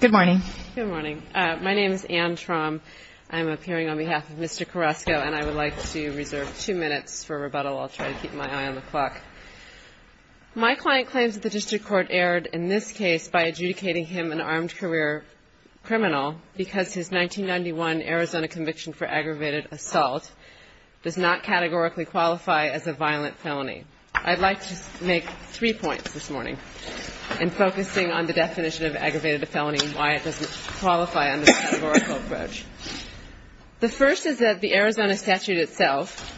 Good morning. My name is Anne Traum. I'm appearing on behalf of Mr. Carrasco, and I would like to reserve two minutes for rebuttal. I'll try to keep my eye on the clock. My client claims that the district court erred in this case by adjudicating him an armed career criminal because his 1991 Arizona conviction for aggravated assault does not categorically qualify as a violent felony. I'd like to make three points this morning in focusing on the definition of aggravated felony and why it doesn't qualify under the categorical approach. The first is that the Arizona statute itself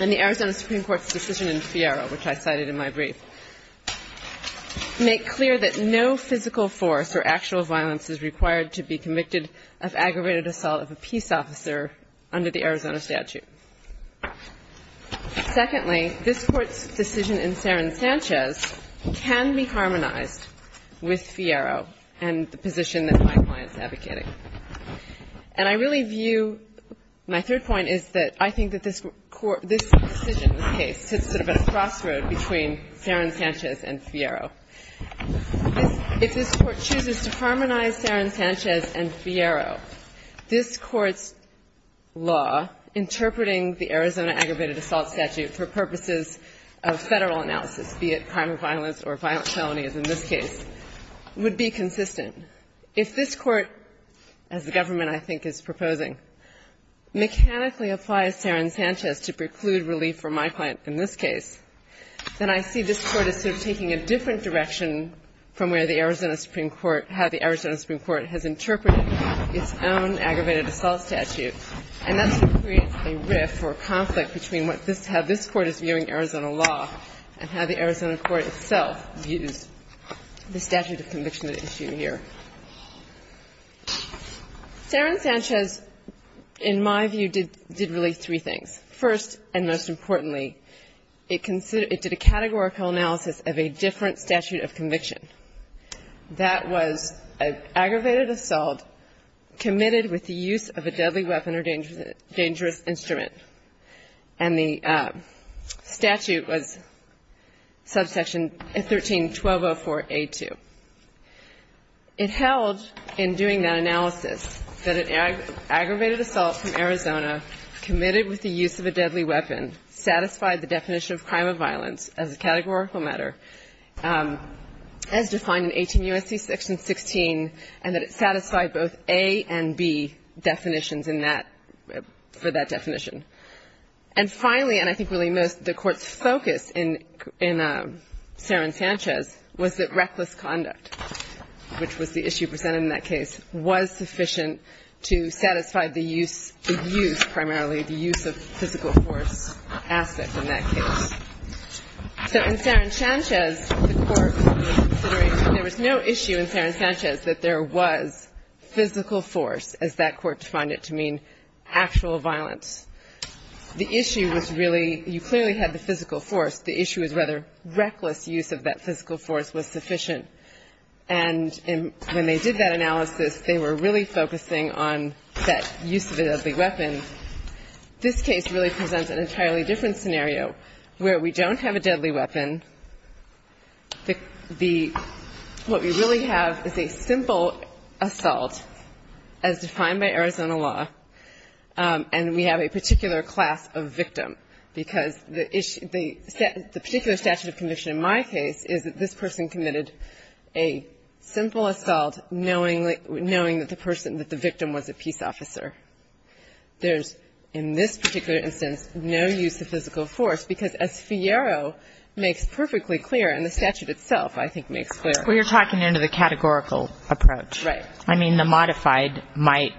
and the Arizona Supreme Court's decision in FIERA, which I cited in my brief, make clear that no physical force or actual violence is required to be convicted of aggravated assault of a peace officer under the Arizona statute. Secondly, this Court's decision in Serran-Sanchez can be harmonized with FIERA and the position that my client is advocating. And I really view my third point is that I think that this Court, this decision, this case, hits sort of a crossroad between Serran-Sanchez and FIERA. If this Court chooses to harmonize Serran-Sanchez and FIERA, this Court's law interpreting the Arizona aggravated assault statute for purposes of Federal analysis, be it crime of violence or violent felonies in this case, would be consistent. If this Court, as the government I think is proposing, mechanically applies Serran-Sanchez to preclude relief for my client in this case, then I see this Court as sort of taking a different direction from where the Arizona Supreme Court, how the Arizona Supreme Court has interpreted its own aggravated assault statute. And that sort of creates a rift or conflict between what this — how this Court is viewing Arizona law and how the Arizona court itself views the statute of conviction at issue here. Serran-Sanchez, in my view, did really three things. First and most importantly, it considered — it did a categorical analysis of a different statute of conviction. That was an aggravated assault committed with the use of a deadly weapon or dangerous instrument. And the statute was subsection 13-1204A2. It held, in doing that analysis, that an aggravated assault from Arizona committed with the use of a deadly weapon satisfied the definition of crime of violence as a categorical matter, as defined in 18 U.S.C. Section 16, and that it satisfied both A and B definitions in that — for that definition. And finally, and I think really most, the Court's focus in — in Serran-Sanchez was that reckless conduct, which was the issue presented in that case, was sufficient to satisfy the use — the use, primarily, the use of physical force aspect in that case. So in Serran-Sanchez, the Court was considering — there was no issue in Serran-Sanchez that there was physical force, as that Court defined it, to mean actual violence. The issue was really — you clearly had the physical force. The issue was whether reckless use of that physical force was sufficient. And when they did that analysis, they were really focusing on that use of a deadly weapon. This case really presents an entirely different scenario, where we don't have a deadly weapon. The — what we really have is a simple assault, as defined by Arizona law, and we have a particular class of victim, because the issue — the particular statute of conviction in my case is that this person committed a simple assault knowing — knowing that the person — that the victim was a peace officer. There's, in this particular instance, no use of physical force, because, as Fierro makes perfectly clear, and the statute itself, I think, makes clear. Kagan. Well, you're talking into the categorical approach. Anderson. Right. Kagan. I mean, the modified might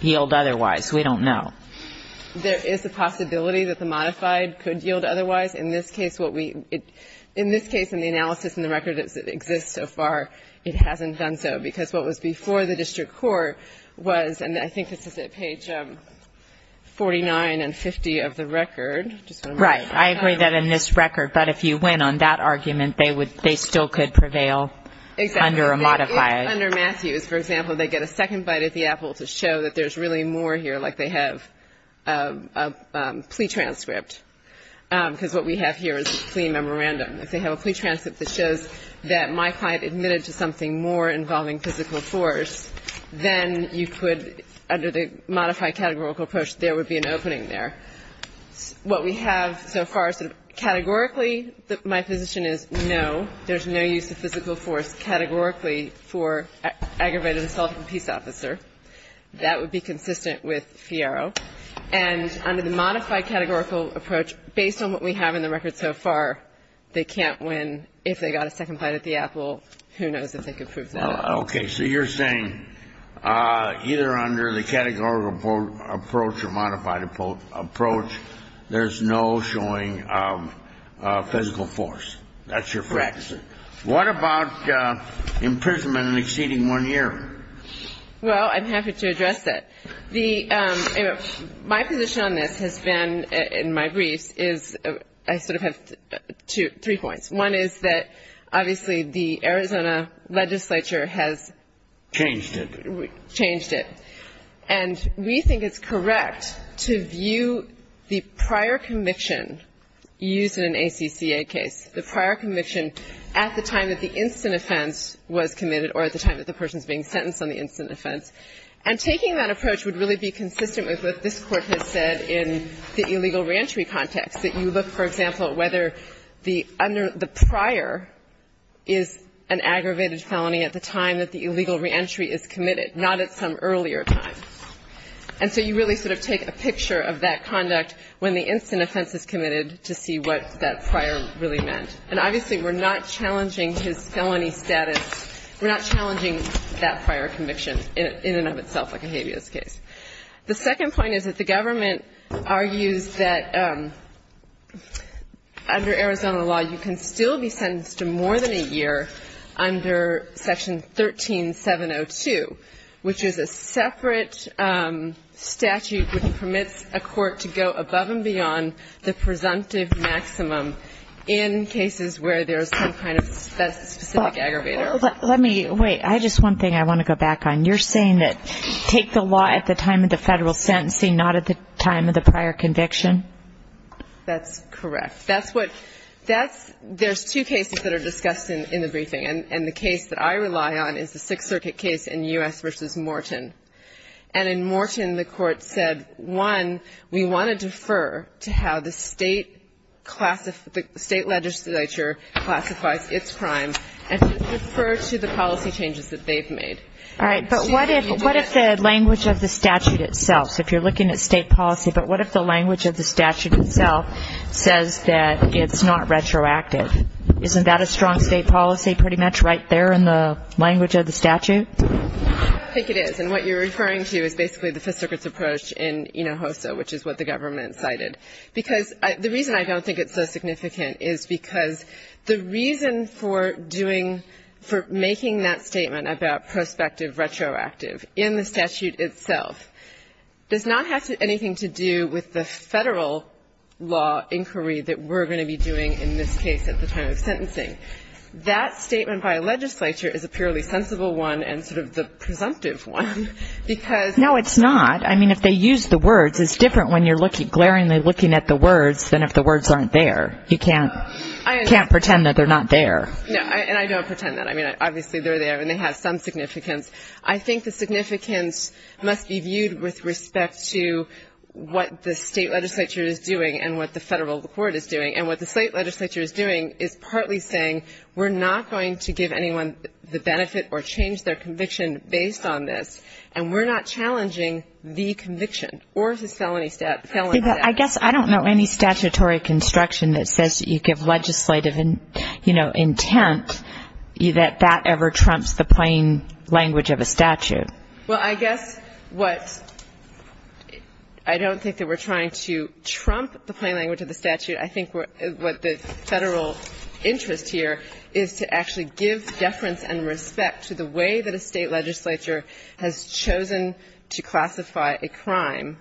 yield otherwise. We don't know. Anderson. There is a possibility that the modified could yield otherwise. In this case, what we — in this case, in the analysis and the record that exists so far, it hasn't done so, because what was before the district court was — and I think this is at page 49 and 50 of the record. Just want to make sure. Kagan. Right. I agree that in this record. But if you went on that argument, they would — they still could prevail under a modified. Anderson. Exactly. Under Matthews, for example, they get a second bite at the apple to show that there's really more here, like they have a plea transcript. Because what we have here is a plea memorandum. If they have a plea transcript that shows that my client admitted to something more involving physical force, then you could, under the modified categorical approach, there would be an opening there. What we have so far, sort of categorically, my position is no. There's no use of physical force categorically for aggravated assault of a peace officer. That would be consistent with Fierro. And under the modified categorical approach, based on what we have in the record so far, they can't win. If they got a second bite at the apple, who knows if they could prove that. Kennedy. Okay. So you're saying either under the categorical approach or modified approach, there's no showing of physical force. That's your practice. What about imprisonment in exceeding one year? Well, I'm happy to address that. My position on this has been, in my briefs, is I sort of have three points. One is that, obviously, the Arizona legislature has changed it. Changed it. And we think it's correct to view the prior conviction used in an ACCA case, the prior conviction, at the time that the instant offense was committed or at the time that the person is being sentenced on the instant offense. And taking that approach would really be consistent with what this Court has said in the illegal reentry context, that you look, for example, at whether the prior is an aggravated felony at the time that the illegal reentry is committed, not at some earlier time. And so you really sort of take a picture of that conduct when the instant offense is committed to see what that prior really meant. And obviously, we're not challenging his felony status. We're not challenging that prior conviction in and of itself like a habeas case. The second point is that the government argues that under Arizona law, you can still be sentenced to more than a year under Section 13702, which is a separate statute which permits a court to go above and beyond the presumptive maximum in cases where there's some kind of specific aggravator. Let me wait. I have just one thing I want to go back on. You're saying that take the law at the time of the federal sentencing, not at the time of the prior conviction? That's correct. That's what that's ‑‑ there's two cases that are discussed in the briefing. And the case that I rely on is the Sixth Circuit case in U.S. v. Morton. And in Morton, the court said, one, we want to defer to how the state classifies ‑‑ the state legislature classifies its crimes and defer to the policy changes that they've made. All right. But what if the language of the statute itself, so if you're looking at state policy, but what if the language of the statute itself says that it's not retroactive? Isn't that a strong state policy pretty much right there in the language of the statute? I think it is. And what you're referring to is basically the Fifth Circuit's approach in Enohoso, which is what the government cited. Because the reason I don't think it's so significant is because the reason for doing ‑‑ for making that statement about prospective retroactive in the statute itself does not have anything to do with the federal law inquiry that we're going to be doing in this case at the time of sentencing. That statement by a legislature is a purely sensible one and sort of the presumptive one, because ‑‑ No, it's not. I mean, if they use the words, it's different when you're glaringly looking at the words than if the words aren't there. You can't pretend that they're not there. No, and I don't pretend that. I mean, obviously, they're there, and they have some significance. I think the significance must be viewed with respect to what the state legislature is doing and what the federal court is doing. And what the state legislature is doing is partly saying we're not going to give anyone the benefit or change their conviction based on this, and we're not challenging the conviction or the felony statute. I guess I don't know any statutory construction that says you give legislative, you know, intent that that ever trumps the plain language of a statute. Well, I guess what ‑‑ I don't think that we're trying to trump the plain language of the statute. I think what the federal interest here is to actually give deference and respect to the way that a state legislature has chosen to classify a crime.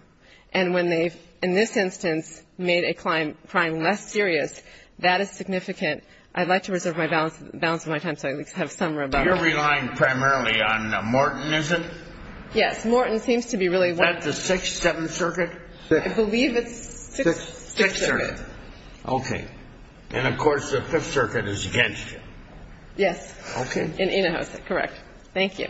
And when they've, in this instance, made a crime less serious, that is significant. I'd like to reserve my balance of my time so I at least have some rebuttal. You're relying primarily on Morton, is it? Yes. Morton seems to be really ‑‑ Is that the Sixth, Seventh Circuit? I believe it's Sixth Circuit. Sixth Circuit. Okay. And, of course, the Fifth Circuit is against you. Yes. Okay. Correct. Thank you.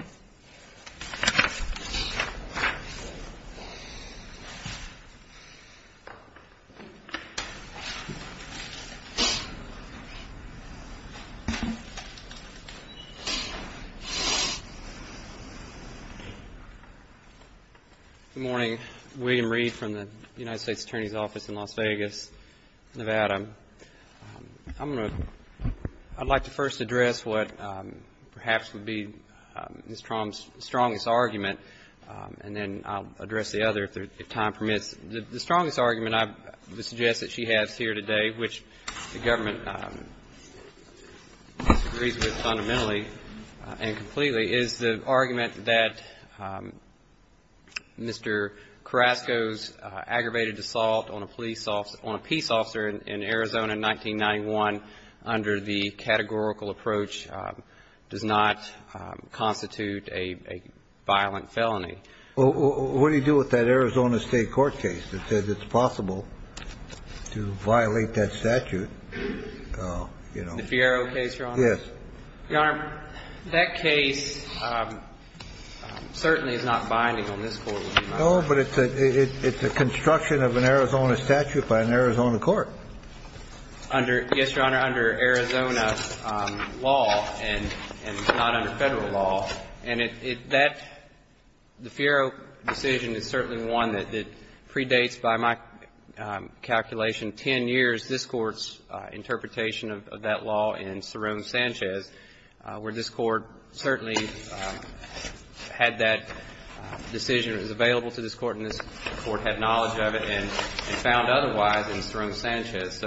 Good morning. William Reed from the United States Attorney's Office in Las Vegas, Nevada. I'm going to ‑‑ I'd like to first address what perhaps would be Ms. Traum's strongest argument, and then I'll address the other if time permits. The strongest argument I would suggest that she has here today, which the government agrees with fundamentally and completely, is the argument that Mr. Carrasco's case in Arizona, 1991, under the categorical approach, does not constitute a violent felony. Well, what do you do with that Arizona State court case that says it's possible to violate that statute? The Fiero case, Your Honor? Yes. Your Honor, that case certainly is not binding on this court. No, but it's a construction of an Arizona statute by an Arizona court. Under ‑‑ yes, Your Honor, under Arizona law and not under Federal law, and that ‑‑ the Fiero decision is certainly one that predates, by my calculation, 10 years this Court's interpretation of that law in Saron Sanchez, where this Court certainly had that decision. It was available to this Court, and this Court had knowledge of it and found otherwise in Saron Sanchez.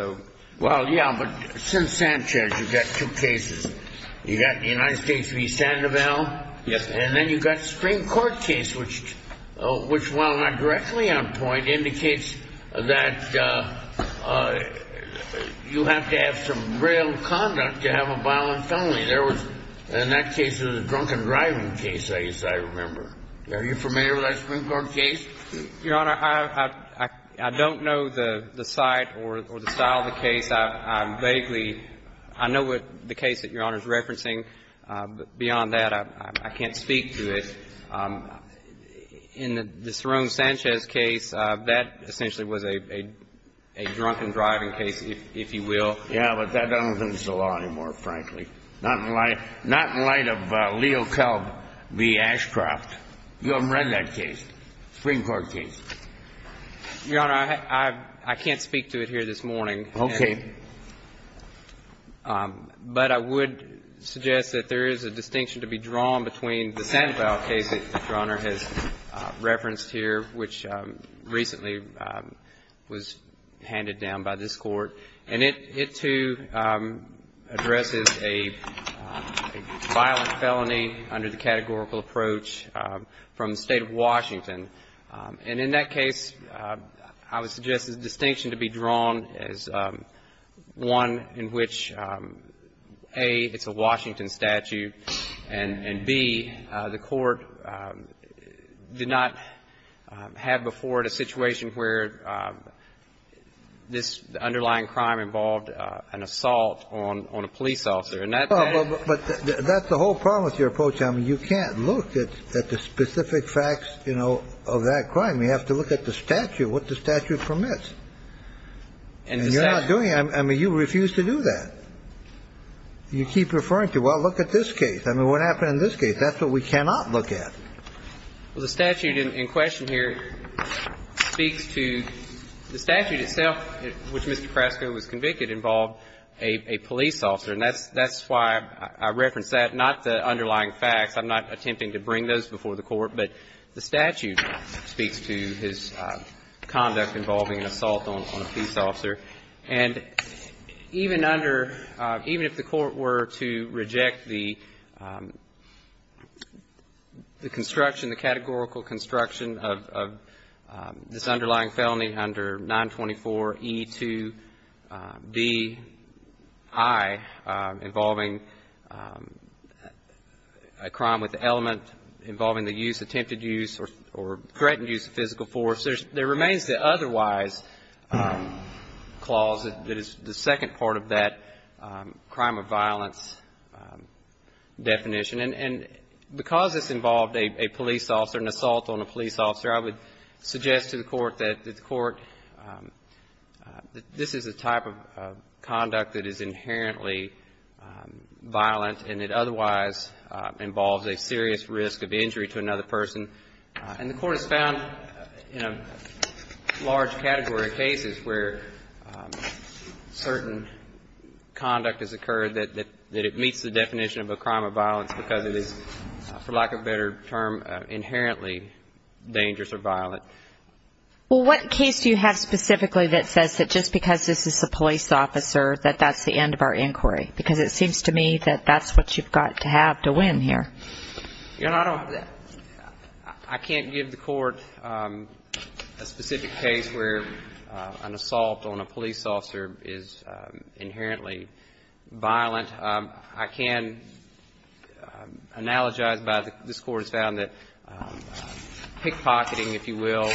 Well, yes, but since Sanchez, you've got two cases. You've got the United States v. Sandoval. Yes. And then you've got the Supreme Court case, which, while not directly on point, indicates that you have to have some real conduct to have a violent felony. In that case, it was a drunken driving case, I remember. Are you familiar with that Supreme Court case? Your Honor, I don't know the site or the style of the case. I vaguely ‑‑ I know what the case that Your Honor is referencing, but beyond that, I can't speak to it. In the Saron Sanchez case, that essentially was a drunken driving case, if you will. Yes, but that doesn't exist in the law anymore, frankly. Not in light of Leo Kelb v. Ashcroft. You haven't read that case, Supreme Court case. Your Honor, I can't speak to it here this morning. Okay. But I would suggest that there is a distinction to be drawn between the Sandoval case that Your Honor has referenced here, which recently was handed down by this Court, and it too addresses a violent felony under the categorical approach from the State of Washington. And in that case, I would suggest there's a distinction to be drawn as one in which, A, it's a Washington statute, and B, the Court did not have before it a violent crime involved an assault on a police officer. But that's the whole problem with your approach. I mean, you can't look at the specific facts, you know, of that crime. You have to look at the statute, what the statute permits. And you're not doing it. I mean, you refuse to do that. You keep referring to, well, look at this case. I mean, what happened in this case? That's what we cannot look at. Well, the statute in question here speaks to the statute itself, which Mr. Krasco was convicted involved a police officer. And that's why I referenced that, not the underlying facts. I'm not attempting to bring those before the Court. But the statute speaks to his conduct involving an assault on a police officer. And even under, even if the Court were to reject the construction, the categorical construction of this underlying felony under 924E2Bi involving a crime with the element involving the use, attempted use, or threatened use of physical force, there remains the otherwise clause that is the second part of that crime of violence definition. And because this involved a police officer, an assault on a police officer, I would suggest to the Court that the Court, this is a type of conduct that is inherently violent and it otherwise involves a serious risk of injury to another person. And the Court has found in a large category of cases where certain conduct has occurred that it meets the definition of a crime of violence because it is, for lack of a better term, inherently dangerous or violent. Well, what case do you have specifically that says that just because this is a police officer that that's the end of our inquiry? Because it seems to me that that's what you've got to have to win here. Your Honor, I don't have that. I can't give the Court a specific case where an assault on a police officer is inherently violent. I can analogize by this Court has found that pickpocketing, if you will,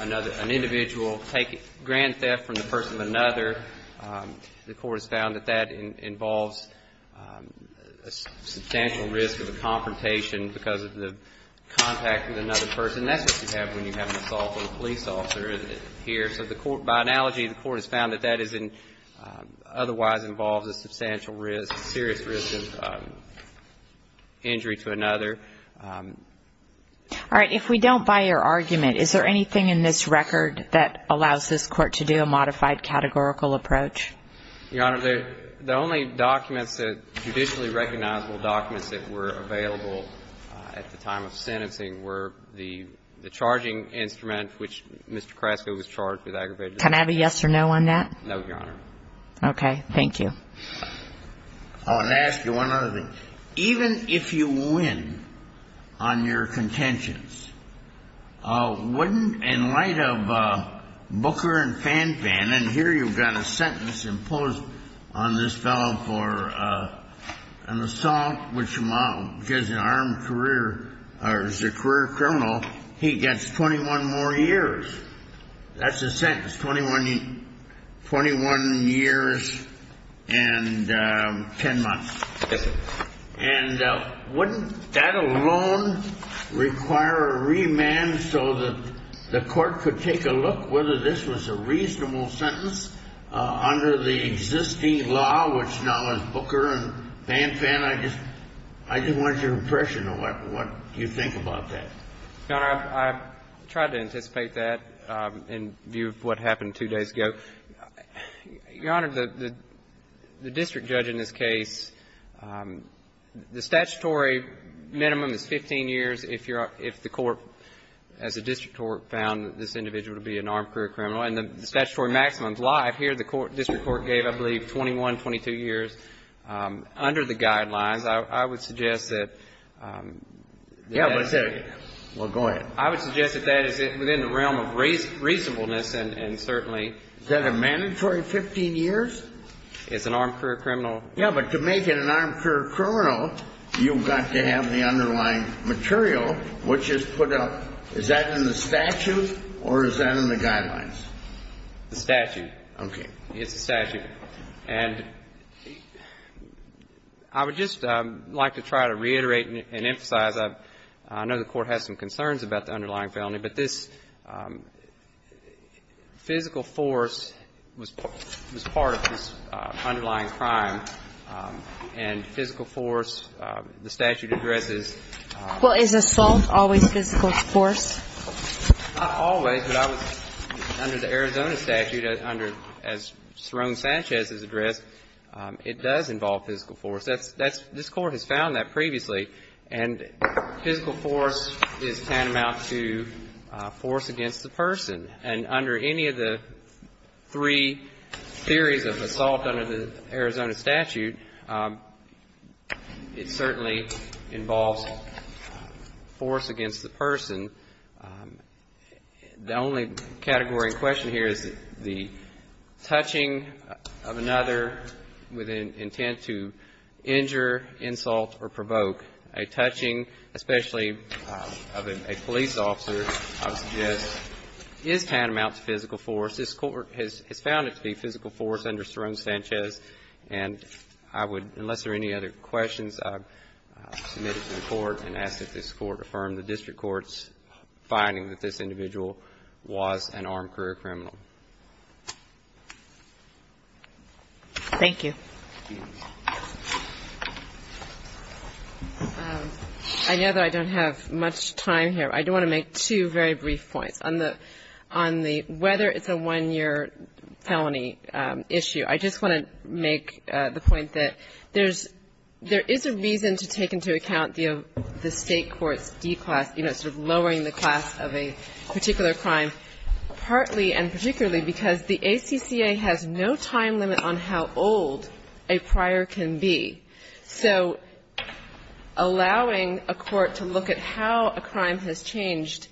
an individual, grand theft from the person of another, the Court has found that that involves a substantial risk of a confrontation because of the contact with another person. That's what you have when you have an assault on a police officer here. So by analogy, the Court has found that that otherwise involves a substantial risk, a serious risk of injury to another. All right. If we don't buy your argument, is there anything in this record that allows this Court to do a modified categorical approach? Your Honor, the only documents that are traditionally recognizable documents that were available at the time of sentencing were the charging instrument, which Mr. Carrasco was charged with aggravated assault. Can I have a yes or no on that? No, Your Honor. Okay. Thank you. I want to ask you one other thing. Even if you win on your contentions, wouldn't, in light of Booker and Fanfan, and then here you've got a sentence imposed on this fellow for an assault, which is an armed career or is a career criminal, he gets 21 more years. That's a sentence, 21 years and 10 months. And wouldn't that alone require a remand so that the Court could take a look at whether this was a reasonable sentence under the existing law, which now is Booker and Fanfan? I just wanted your impression of what you think about that. Your Honor, I've tried to anticipate that in view of what happened two days ago. Your Honor, the district judge in this case, the statutory minimum is 15 years if the court, as a district court, found this individual to be an armed career criminal. And the statutory maximum is life. Here the district court gave, I believe, 21, 22 years. Under the guidelines, I would suggest that that is within the realm of reasonableness and certainly ---- Is that a mandatory 15 years? It's an armed career criminal. Yes, but to make it an armed career criminal, you've got to have the underlying material, which is put up. Is that in the statute or is that in the guidelines? The statute. Okay. It's the statute. And I would just like to try to reiterate and emphasize, I know the Court has some and physical force. The statute addresses ---- Well, is assault always physical force? Not always, but under the Arizona statute, as Saron Sanchez has addressed, it does involve physical force. This Court has found that previously. And physical force is tantamount to force against the person. And under any of the three theories of assault under the Arizona statute, it certainly involves force against the person. The only category in question here is the touching of another with an intent to injure, insult, or provoke. A touching, especially of a police officer, I would suggest is tantamount to physical force. This Court has found it to be physical force under Saron Sanchez. And I would, unless there are any other questions, I would submit it to the Court and ask that this Court affirm the District Court's finding that this individual was an armed career criminal. Thank you. I know that I don't have much time here. I do want to make two very brief points. On the ---- on the whether it's a one-year felony issue, I just want to make the point that there's ---- there is a reason to take into account the State court's declass, you know, sort of lowering the class of a particular crime, partly and particularly because the ACCA has no time limit on how old a prior can be. So allowing a court to look at how a crime has changed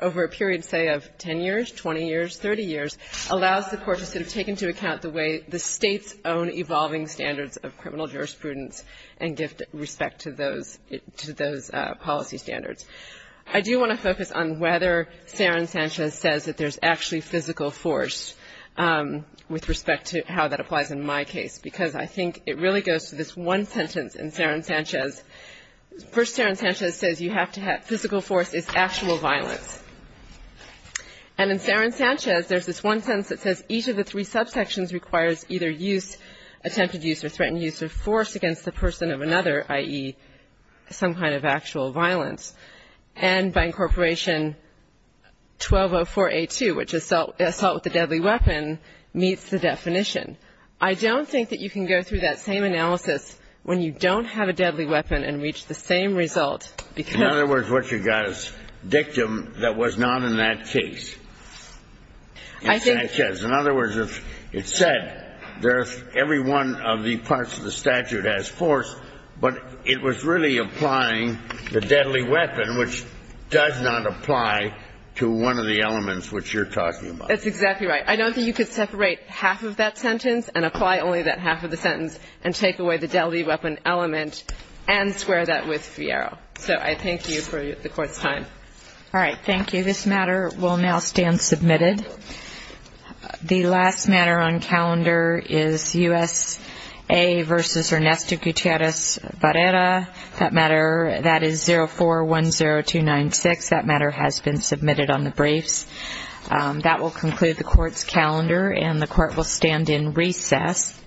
over a period, say, of 10 years, 20 years, 30 years, allows the court to sort of take into account the way the State's own evolving standards of criminal jurisprudence and give respect to those ---- to those policy standards. I do want to focus on whether Saron Sanchez says that there's actually physical force with respect to how that applies in my case, because I think it really goes to this one sentence in Saron Sanchez. First, Saron Sanchez says you have to have ---- physical force is actual violence. And in Saron Sanchez, there's this one sentence that says each of the three subsections requires either use, attempted use or threatened use of force against the person of another, i.e., some kind of actual violence. And by Incorporation 1204a2, which is assault with a deadly weapon, meets the definition. I don't think that you can go through that same analysis when you don't have a deadly weapon and reach the same result because ---- In other words, what you got is dictum that was not in that case. In Sanchez. In other words, it said there's every one of the parts of the statute has force, but it was really applying the deadly weapon, which does not apply to one of the elements which you're talking about. That's exactly right. I don't think you could separate half of that sentence and apply only that half of the sentence and take away the deadly weapon element and square that with Fierro. So I thank you for the Court's time. All right. Thank you. This matter will now stand submitted. The last matter on calendar is USA v. Ernesto Gutierrez Barrera. That matter, that is 0410296. That matter has been submitted on the briefs. That will conclude the Court's calendar, and the Court will stand in recess.